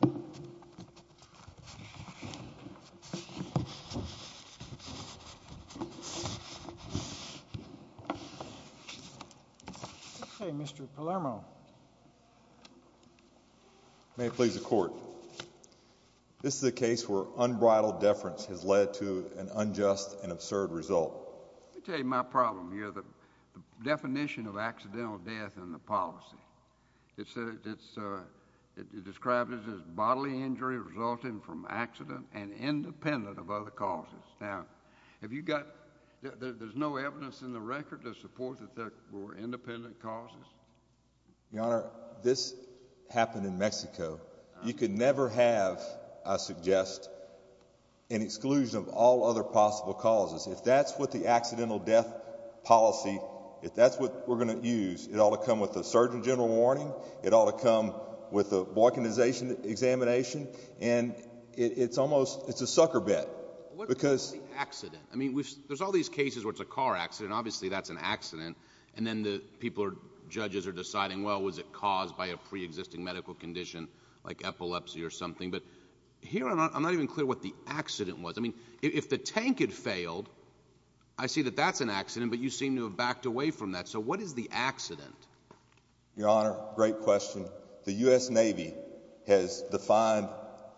Okay, Mr. Palermo. May it please the court. This is a case where unbridled deference has led to an unjust and absurd result. Let me tell you my problem here. The definition of bodily injury resulting from accident and independent of other causes. Now, have you got, there's no evidence in the record to support that there were independent causes? Your Honor, this happened in Mexico. You could never have, I suggest, an exclusion of all other possible causes. If that's what the accidental death policy, if that's what we're going to use, it ought to come with a Surgeon General warning, it ought to come with a boycottization examination, and it's almost, it's a sucker bet. What is the accident? I mean, there's all these cases where it's a car accident, obviously that's an accident, and then the people are, judges are deciding, well, was it caused by a pre-existing medical condition, like epilepsy or something, but here I'm not even clear what the accident was. I mean, if the tank had failed, I see that that's an accident, but you seem to have backed away from that. So what is the accident? Your Honor, great question. The U.S. Navy has defined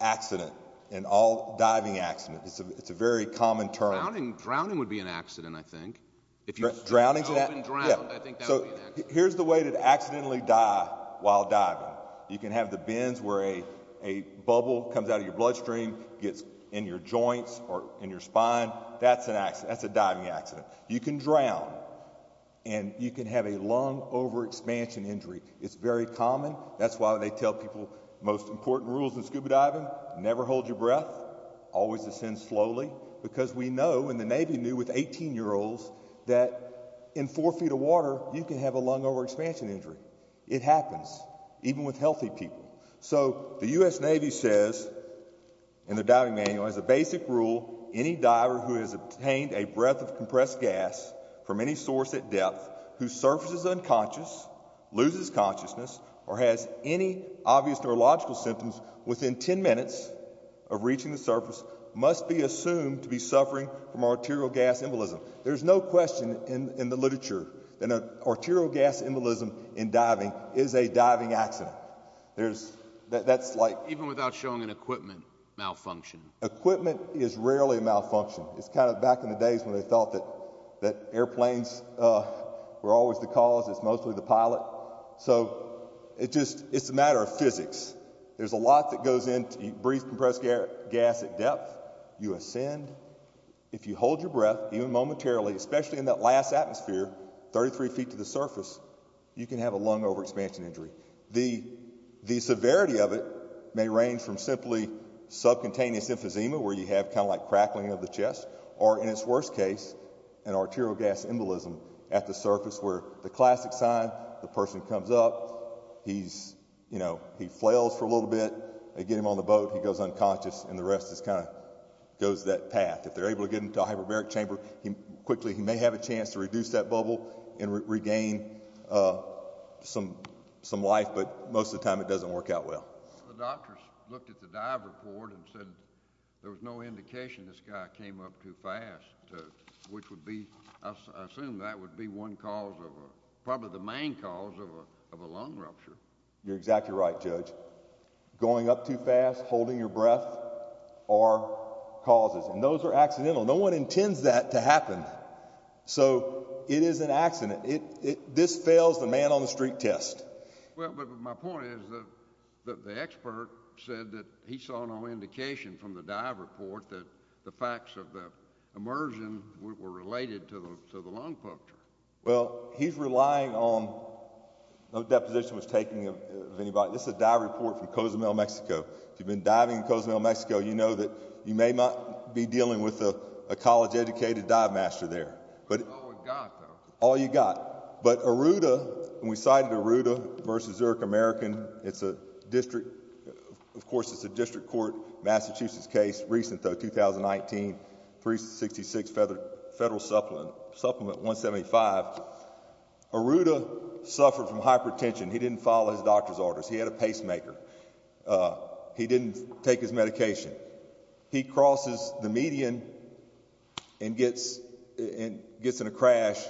accident, an all-diving accident. It's a very common term. Drowning, drowning would be an accident, I think. If you're drowning to that, yeah. So here's the way to accidentally die while diving. You can have the bends where a bubble comes out of your bloodstream, gets in your joints or in your spine, that's an all-diving accident. You can drown, and you can have a lung overexpansion injury. It's very common. That's why they tell people, most important rules in scuba diving, never hold your breath, always descend slowly, because we know, and the Navy knew with 18-year-olds, that in four feet of water, you can have a lung overexpansion injury. It happens, even with healthy people. So the U.S. Navy says in the diving manual, as a basic rule, any breath of compressed gas from any source at depth whose surface is unconscious, loses consciousness, or has any obvious neurological symptoms within 10 minutes of reaching the surface must be assumed to be suffering from arterial gas embolism. There's no question in the literature that arterial gas embolism in diving is a diving accident. That's like... Even without showing an equipment malfunction. Equipment is rarely a malfunction. It's kind of back in the days when they thought that airplanes were always the cause, it's mostly the pilot. So it's a matter of physics. There's a lot that goes into, you breathe compressed gas at depth, you ascend, if you hold your breath, even momentarily, especially in that last atmosphere, 33 feet to the surface, you can have a lung overexpansion injury. The severity of it may range from simply subcontinuous emphysema, where you have kind of like crackling of the chest, or in its worst case, an arterial gas embolism at the surface where the classic sign, the person comes up, he's, you know, he flails for a little bit, they get him on the boat, he goes unconscious, and the rest just kind of goes that path. If they're able to get him to a hyperbaric chamber, quickly he may have a chance to reduce that bubble and regain some life, but most of the time it doesn't work out well. The doctors looked at the dive report and said there was no indication this guy came up too fast, which would be, I assume that would be one cause of a, probably the main cause of a lung rupture. You're exactly right, Judge. Going up too fast, holding your breath, are causes, and those are accidental. No one intends that to happen. So it is an accident. This fails the man on the street test. Well, but my point is that the expert said that he saw no indication from the dive report that the facts of the immersion were related to the lung rupture. Well, he's relying on, no deposition was taken of anybody. This is a dive report from Cozumel, Mexico. If you've been diving in Cozumel, Mexico, you know that you may not be dealing with a college-educated dive master there. All we've got, though. All you've got. But Arruda, and we cited Arruda v. Zurich American, it's a district, of course it's a district court, Massachusetts case, recent though, 2019, 366 Federal Supplement 175, Arruda suffered from hypertension. He didn't follow his doctor's orders. He had a pacemaker. He didn't take his medication. He crosses the median and gets in a crash,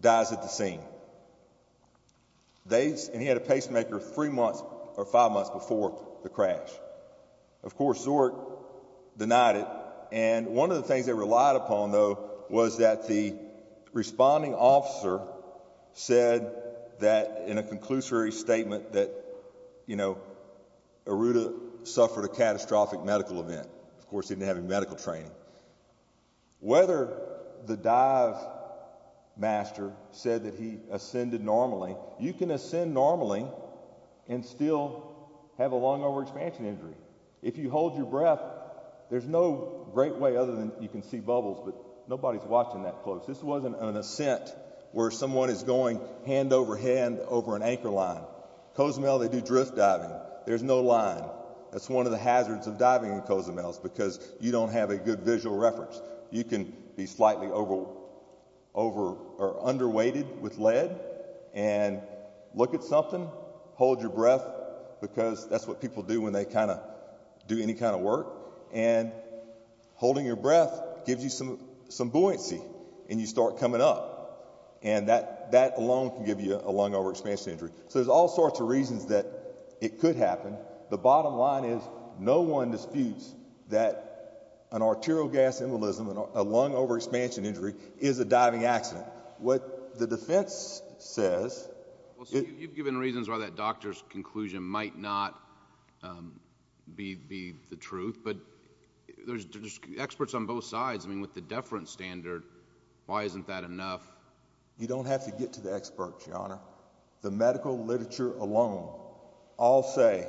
dies at the scene. And he had a pacemaker three months or five months before the crash. Of course, Zurich denied it. And one of the things they relied upon, though, was that the responding officer said that in a conclusory statement that, you know, Arruda suffered a catastrophic medical event. Of course, he didn't have any medical training. Whether the dive master said that he ascended normally, you can ascend normally and still have a lung overexpansion injury. If you hold your breath, there's no great way other than you can see bubbles, but nobody's watching that close. This wasn't an ascent where someone is going hand over hand over an anchor line. In Cozumel, they do drift diving. There's no line. That's one of the hazards of diving in Cozumel is because you don't have a good visual reference. You can be slightly over or underweighted with lead and look at something, hold your breath, because that's what people do when they kind of do any kind of work. And holding your breath gives you some buoyancy, and you start coming up. And that alone can give you a lung overexpansion injury. So there's all sorts of reasons that it could happen. The bottom line is, no one disputes that an arterial gas embolism, a lung overexpansion injury, is a diving accident. What the defense says... You've given reasons why that doctor's conclusion might not be the truth, but there's experts on both sides. I mean, with the deference standard, why isn't that enough? You don't have to get to the experts, Your Honor. The medical literature alone, all say...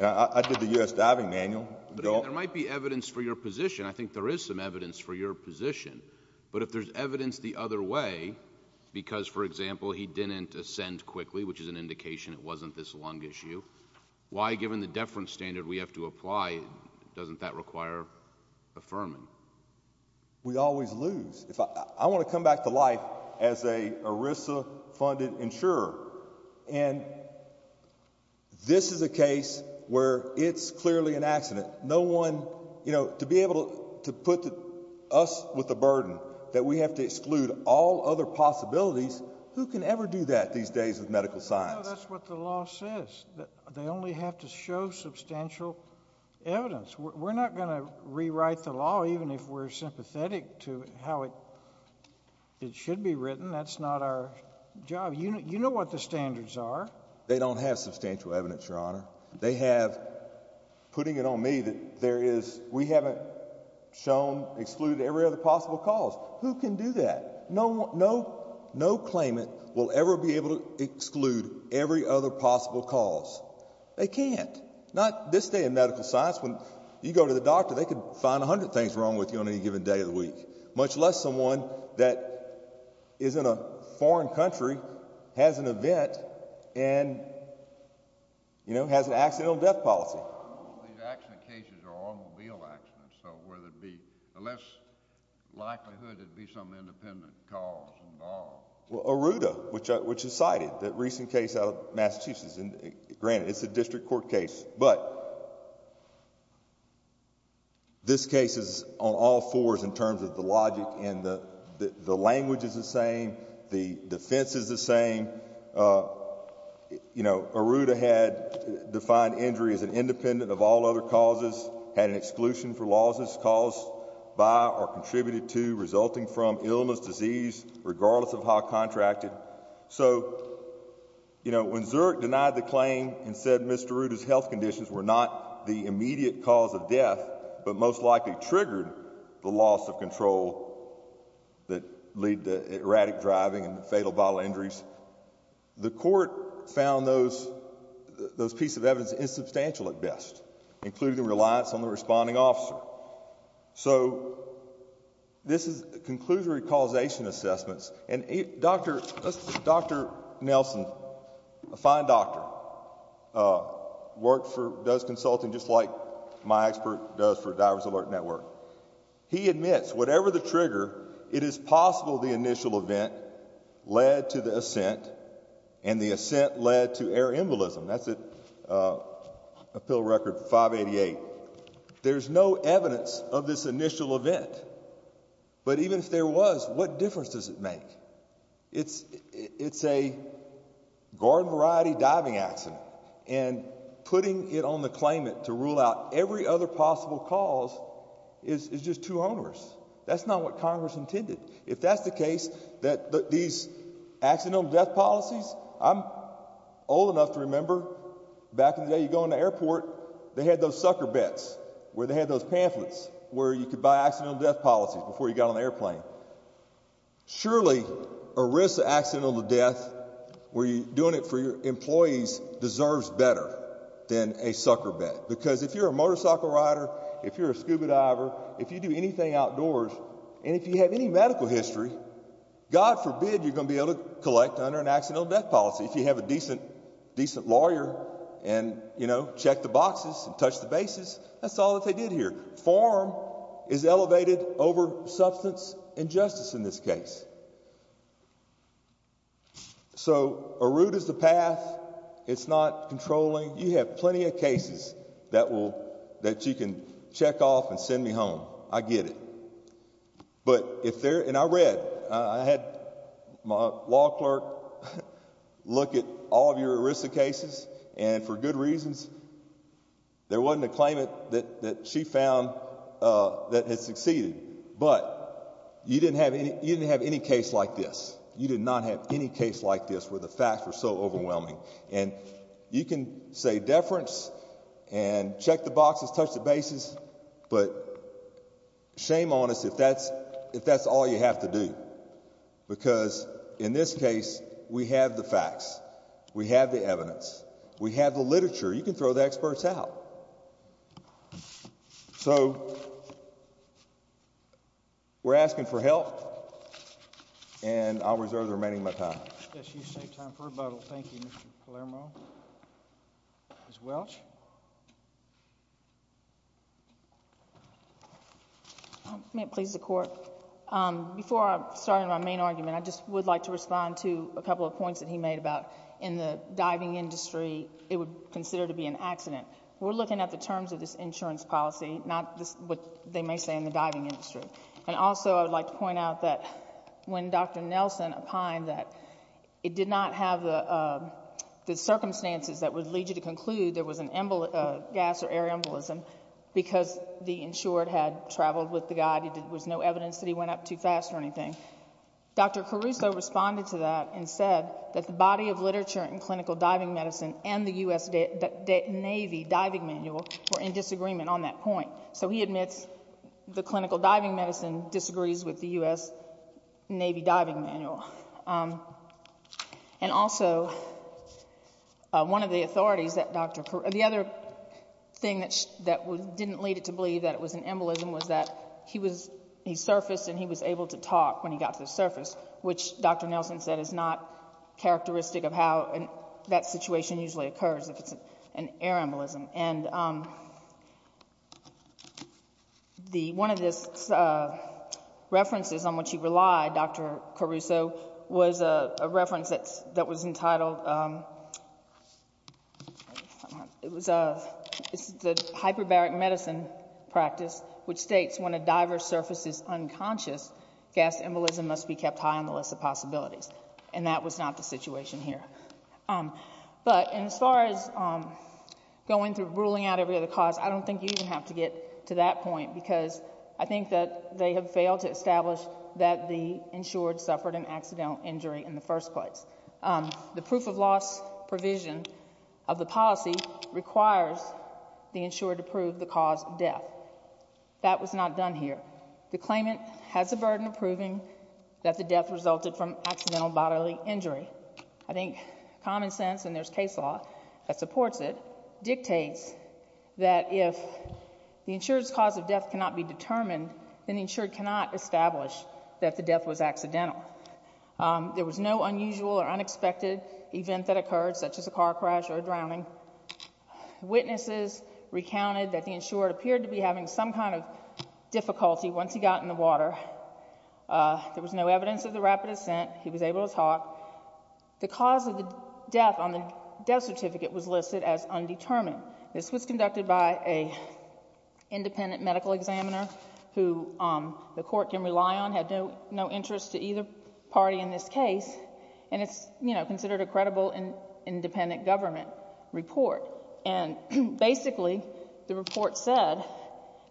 I did the U.S. Diving Manual. There might be evidence for your position. I think there is some evidence for your position. But if there's evidence the other way, because, for example, he didn't ascend quickly, which is an indication it wasn't this lung issue, why, given the deference standard we have to apply, doesn't that require affirming? We always lose. I want to come back to life as a ERISA-funded insurer. And this is a case where it's clearly an accident. No one... To be able to put us with the burden that we have to exclude all other possibilities, who can ever do that these days with medical science? That's what the law says. They only have to show substantial evidence. We're not going to rewrite the law, even if we're sympathetic to how it should be written. That's not our job. You know what the standards are. They don't have substantial evidence, Your Honor. They have... Putting it on me that there is... shown excluded every other possible cause. Who can do that? No claimant will ever be able to exclude every other possible cause. They can't. Not this day in medical science. When you go to the doctor, they could find 100 things wrong with you on any given day of the week, much less someone that is in a foreign country, has an event, and has an accidental death policy. These accident cases are automobile accidents, so where there'd be a less likelihood there'd be some independent cause involved. Well, Aruda, which is cited, that recent case out of Massachusetts, granted, it's a district court case. But this case is on all fours in terms of the logic and the language is the same. The defense is the other causes had an exclusion for losses caused by or contributed to resulting from illness, disease, regardless of how contracted. So, you know, when Zurich denied the claim and said Mr. Aruda's health conditions were not the immediate cause of death, but most likely triggered the loss of control that lead to erratic driving and fatal bodily injuries, the court found those pieces of evidence insubstantial at best, including the reliance on the responding officer. So this concludes the causation assessments. And Dr. Nelson, a fine doctor, worked for, does consulting just like my expert does for Diver's Alert Network. He admits whatever the trigger, it is possible the initial event led to the ascent, and the ascent led to air embolism. That's a pill record 588. There's no evidence of this initial event. But even if there was, what difference does it make? It's a garden variety diving accident. And putting it on the claimant to rule out every other possible cause is just too onerous. That's not what Congress intended. If that's the case, that these accidental death policies, I'm old enough to remember back in the day you go in the airport, they had those sucker bets, where they had those pamphlets, where you could buy accidental death policies before you got on the airplane. Surely, a risk of accidental death, where you're doing it for your employees, deserves better than a sucker bet. Because if you're a motorcycle rider, if you're a scuba diver, if you do anything outdoors, and if you have any medical history, God forbid you're going to be able to collect under an accidental death policy if you have a decent lawyer and check the boxes and touch the bases. That's all that they did here. Form is elevated over substance injustice in this case. So a route is the path. It's not controlling. You have plenty of cases that you can check off and send me home. I get it. And I read. I had my law clerk look at all of your ERISA cases, and for good reasons, there wasn't a claimant that she found that had succeeded. But you didn't have any case like this. You did not have any case like this, where the facts were so overwhelming. And you can say deference and check the boxes, touch the bases, but shame on us if that's all you have to do. Because in this case, we have the facts. We have the evidence. We have the literature. You can throw the experts out. So we're asking for help, and I'll reserve the remaining of my time. Yes, you saved time for rebuttal. Thank you, Mr. Palermo. Ms. Welch? May it please the Court? Before I start on my main argument, I just would like to respond to a couple of points that he made about in the diving industry, it would consider to be an accident. We're looking at the terms of this insurance policy, not what they may say in the when Dr. Nelson opined that it did not have the circumstances that would lead you to conclude there was a gas or air embolism because the insured had traveled with the guy. There was no evidence that he went up too fast or anything. Dr. Caruso responded to that and said that the body of literature in clinical diving medicine and the U.S. Navy diving manual were in disagreement on that point. So he admits the clinical diving medicine disagrees with the U.S. Navy diving manual. And also, one of the authorities that Dr. Caruso, the other thing that didn't lead it to believe that it was an embolism was that he surfaced and he was able to talk when he got to the surface, which Dr. Nelson said is not characteristic of how that situation usually occurs if it's an air embolism. And one of the references on which he relied, Dr. Caruso, was a reference that was entitled the hyperbaric medicine practice, which states when a diver surfaces unconscious, gas embolism must be kept high on the list of possibilities. And that was not the situation here. But as far as going through ruling out every other cause, I don't think you even have to get to that point because I think that they have failed to establish that the insured suffered an accidental injury in the first place. The proof of loss provision of the policy requires the insured to prove the cause of death. That was not done here. The claimant has the burden of the death resulted from accidental bodily injury. I think common sense, and there's case law that supports it, dictates that if the insured's cause of death cannot be determined, then the insured cannot establish that the death was accidental. There was no unusual or unexpected event that occurred, such as a car crash or a drowning. Witnesses recounted that the insured appeared to be having some kind of difficulty once he got in the water. There was no evidence of the rapid ascent. He was able to talk. The cause of the death on the death certificate was listed as undetermined. This was conducted by an independent medical examiner who the court can rely on, had no interest to either party in this case, and it's, you know, considered a credible and independent government report. And basically, the report said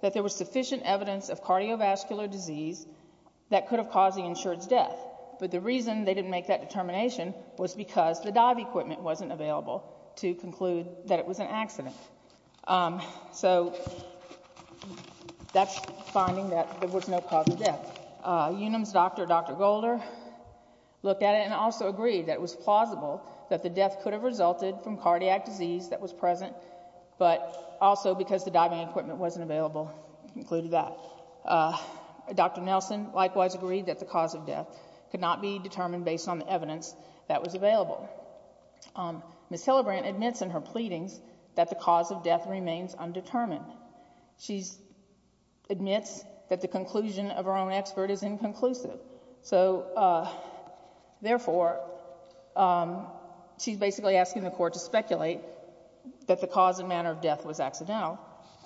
that there was sufficient evidence of cardiovascular disease that could have caused the insured's death, but the reason they didn't make that determination was because the dive equipment wasn't available to conclude that it was an accident. So that's finding that there was no cause of death. Unum's doctor, Dr. Golder, looked at it and also agreed that it was plausible that the death could have resulted from cardiac disease that was present, but also because the diving equipment wasn't available concluded that. Dr. Nelson likewise agreed that the cause of death could not be determined based on the evidence that was available. Ms. Hillebrand admits in her pleadings that the cause of death therefore, she's basically asking the court to speculate that the cause and manner of death was accidental.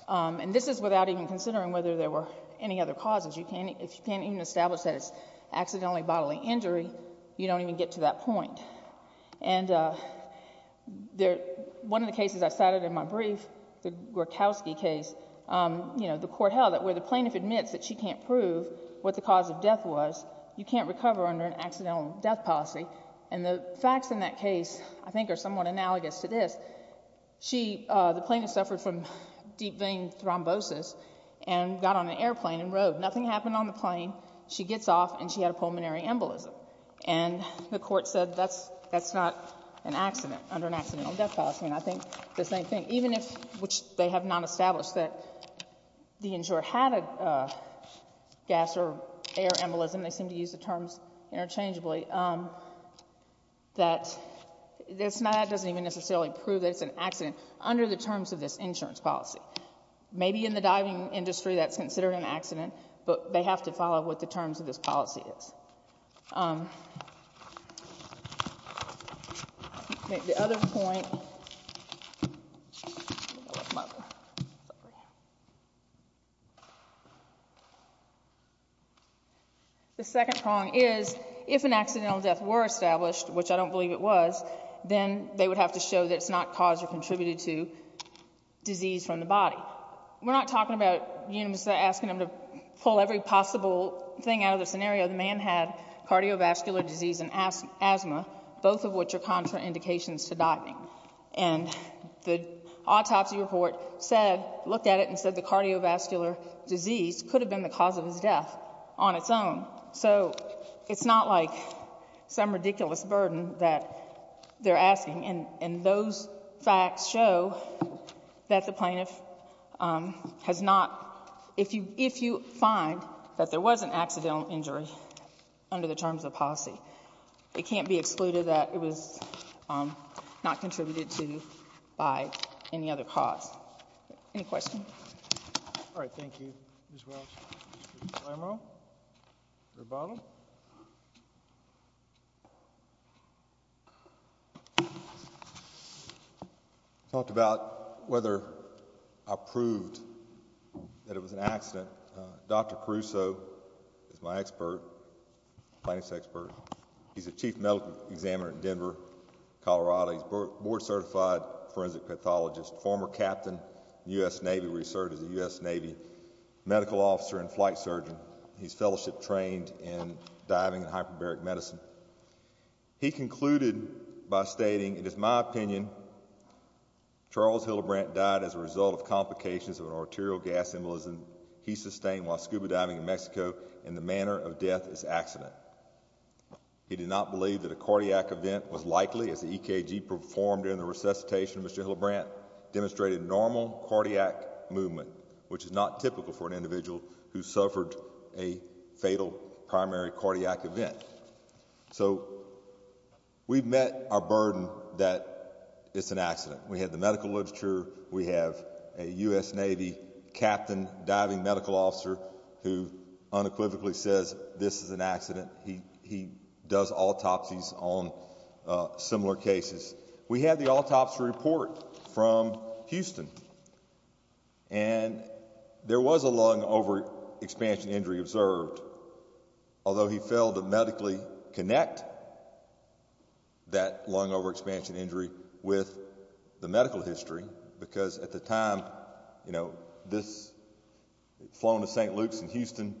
And this is without even considering whether there were any other causes. You can't, if you can't even establish that it's accidentally bodily injury, you don't even get to that point. And there, one of the cases I cited in my brief, the Gorkowski case, you know, the court held that the plaintiff admits that she can't prove what the cause of death was. You can't recover under an accidental death policy. And the facts in that case, I think are somewhat analogous to this. She, the plaintiff suffered from deep vein thrombosis and got on an airplane and rode. Nothing happened on the plane. She gets off and she had a pulmonary embolism. And the court said that's, that's not an accident under an accidental death policy. And I think the same thing, even if, which they have not established that the insurer had a gas or air embolism, they seem to use the terms interchangeably, that it's not, that doesn't even necessarily prove that it's an accident under the terms of this insurance policy. Maybe in the diving industry, that's considered an accident, but they have to follow what the terms of this policy is. Um, the other point, the second prong is if an accidental death were established, which I don't believe it was, then they would have to show that it's not caused or contributed to disease from the body. We're not talking about asking them to pull every possible thing out of the scenario. The man had cardiovascular disease and asthma, both of which are contraindications to diving. And the autopsy report said, looked at it and said the cardiovascular disease could have been the cause of his death on its own. So it's not like some ridiculous burden that they're asking. And those facts show that the plaintiff, um, has not, if you, if you find that there was an accidental injury under the terms of policy, it can't be excluded that it was, um, not contributed to by any other cause. Any questions? All right. Thank you. Ms. Welch. Mr. DeLamro, rebuttal. I talked about whether I proved that it was an accident. Dr. Caruso is my expert, plaintiff's expert. He's a chief medical examiner in Denver, Colorado. He's a board certified forensic pathologist, former captain, U.S. Navy, where he served as a U.S. Navy medical officer and flight surgeon. He's fellowship trained in diving and hyperbaric medicine. He concluded by stating, it is my opinion, Charles Hillebrandt died as a result of complications of an arterial gas embolism he sustained while scuba diving in Mexico and the manner of death is accident. He did not believe that a cardiac event was likely as the EKG performed during the resuscitation of Mr. Hillebrandt demonstrated normal cardiac movement, which is not typical for an individual who suffered a fatal primary cardiac event. So we've met our burden that it's an accident. We have the medical literature. We have a U.S. Navy captain diving medical officer who unequivocally says this is an accident. He does autopsies on similar cases. We had the autopsy report from Houston and there was a lung overexpansion injury observed, although he failed to medically connect that lung overexpansion injury with the medical history because at the time, you know, this flown to St. Luke's in Houston,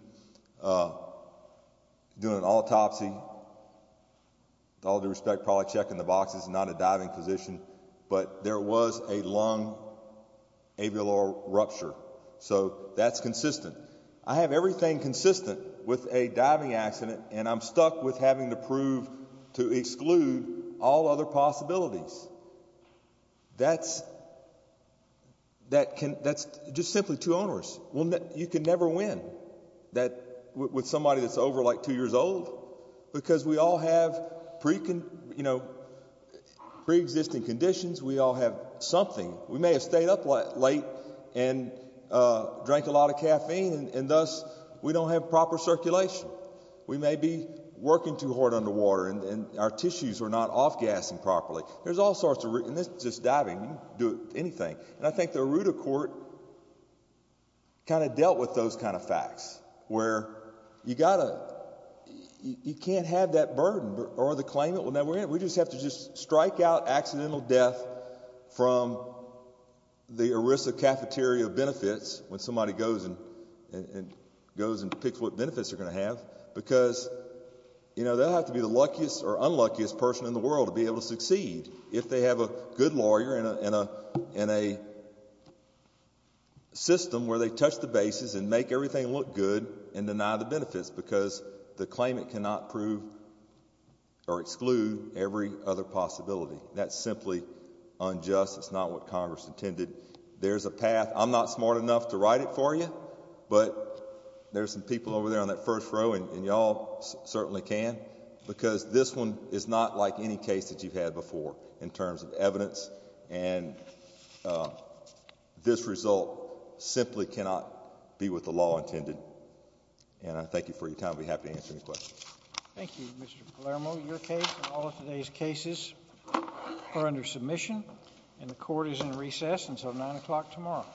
doing an autopsy, with all due respect, probably checking the boxes, not a diving position, but there was a lung ablial rupture. So that's consistent. I have everything consistent with a diving accident and I'm stuck with having to prove to exclude all other possibilities. That's just simply too onerous. You can never win with somebody that's over like two years old. Because we all have pre-existing conditions. We all have something. We may have stayed up late and drank a lot of caffeine and thus we don't have proper circulation. We may be working too hard underwater and our tissues are not off-gassing properly. There's all sorts of reasons. It's just diving. You can do anything. And I think the Aruda Court kind of dealt with those kind of facts where you can't have that burden or the claimant will never win. We just have to strike out accidental death from the Arisa cafeteria benefits when somebody goes and picks what benefits they're going to have because they'll have to be the luckiest or unluckiest person in the world to be able to succeed. If they have a good lawyer and a system where they touch the bases and make everything look good and deny the benefits because the claimant cannot prove or exclude every other possibility. That's simply unjust. It's not what Congress intended. There's a path. I'm not smart enough to write it for you but there's some people over there on that first row and y'all certainly can because this one is not like any case that you've had before in terms of evidence and this result simply cannot be with the law intended. And I thank you for your time. I'll be happy to answer any questions. Thank you Mr. Palermo. Your case and all of today's cases are under submission and the court is in recess until nine o'clock tomorrow.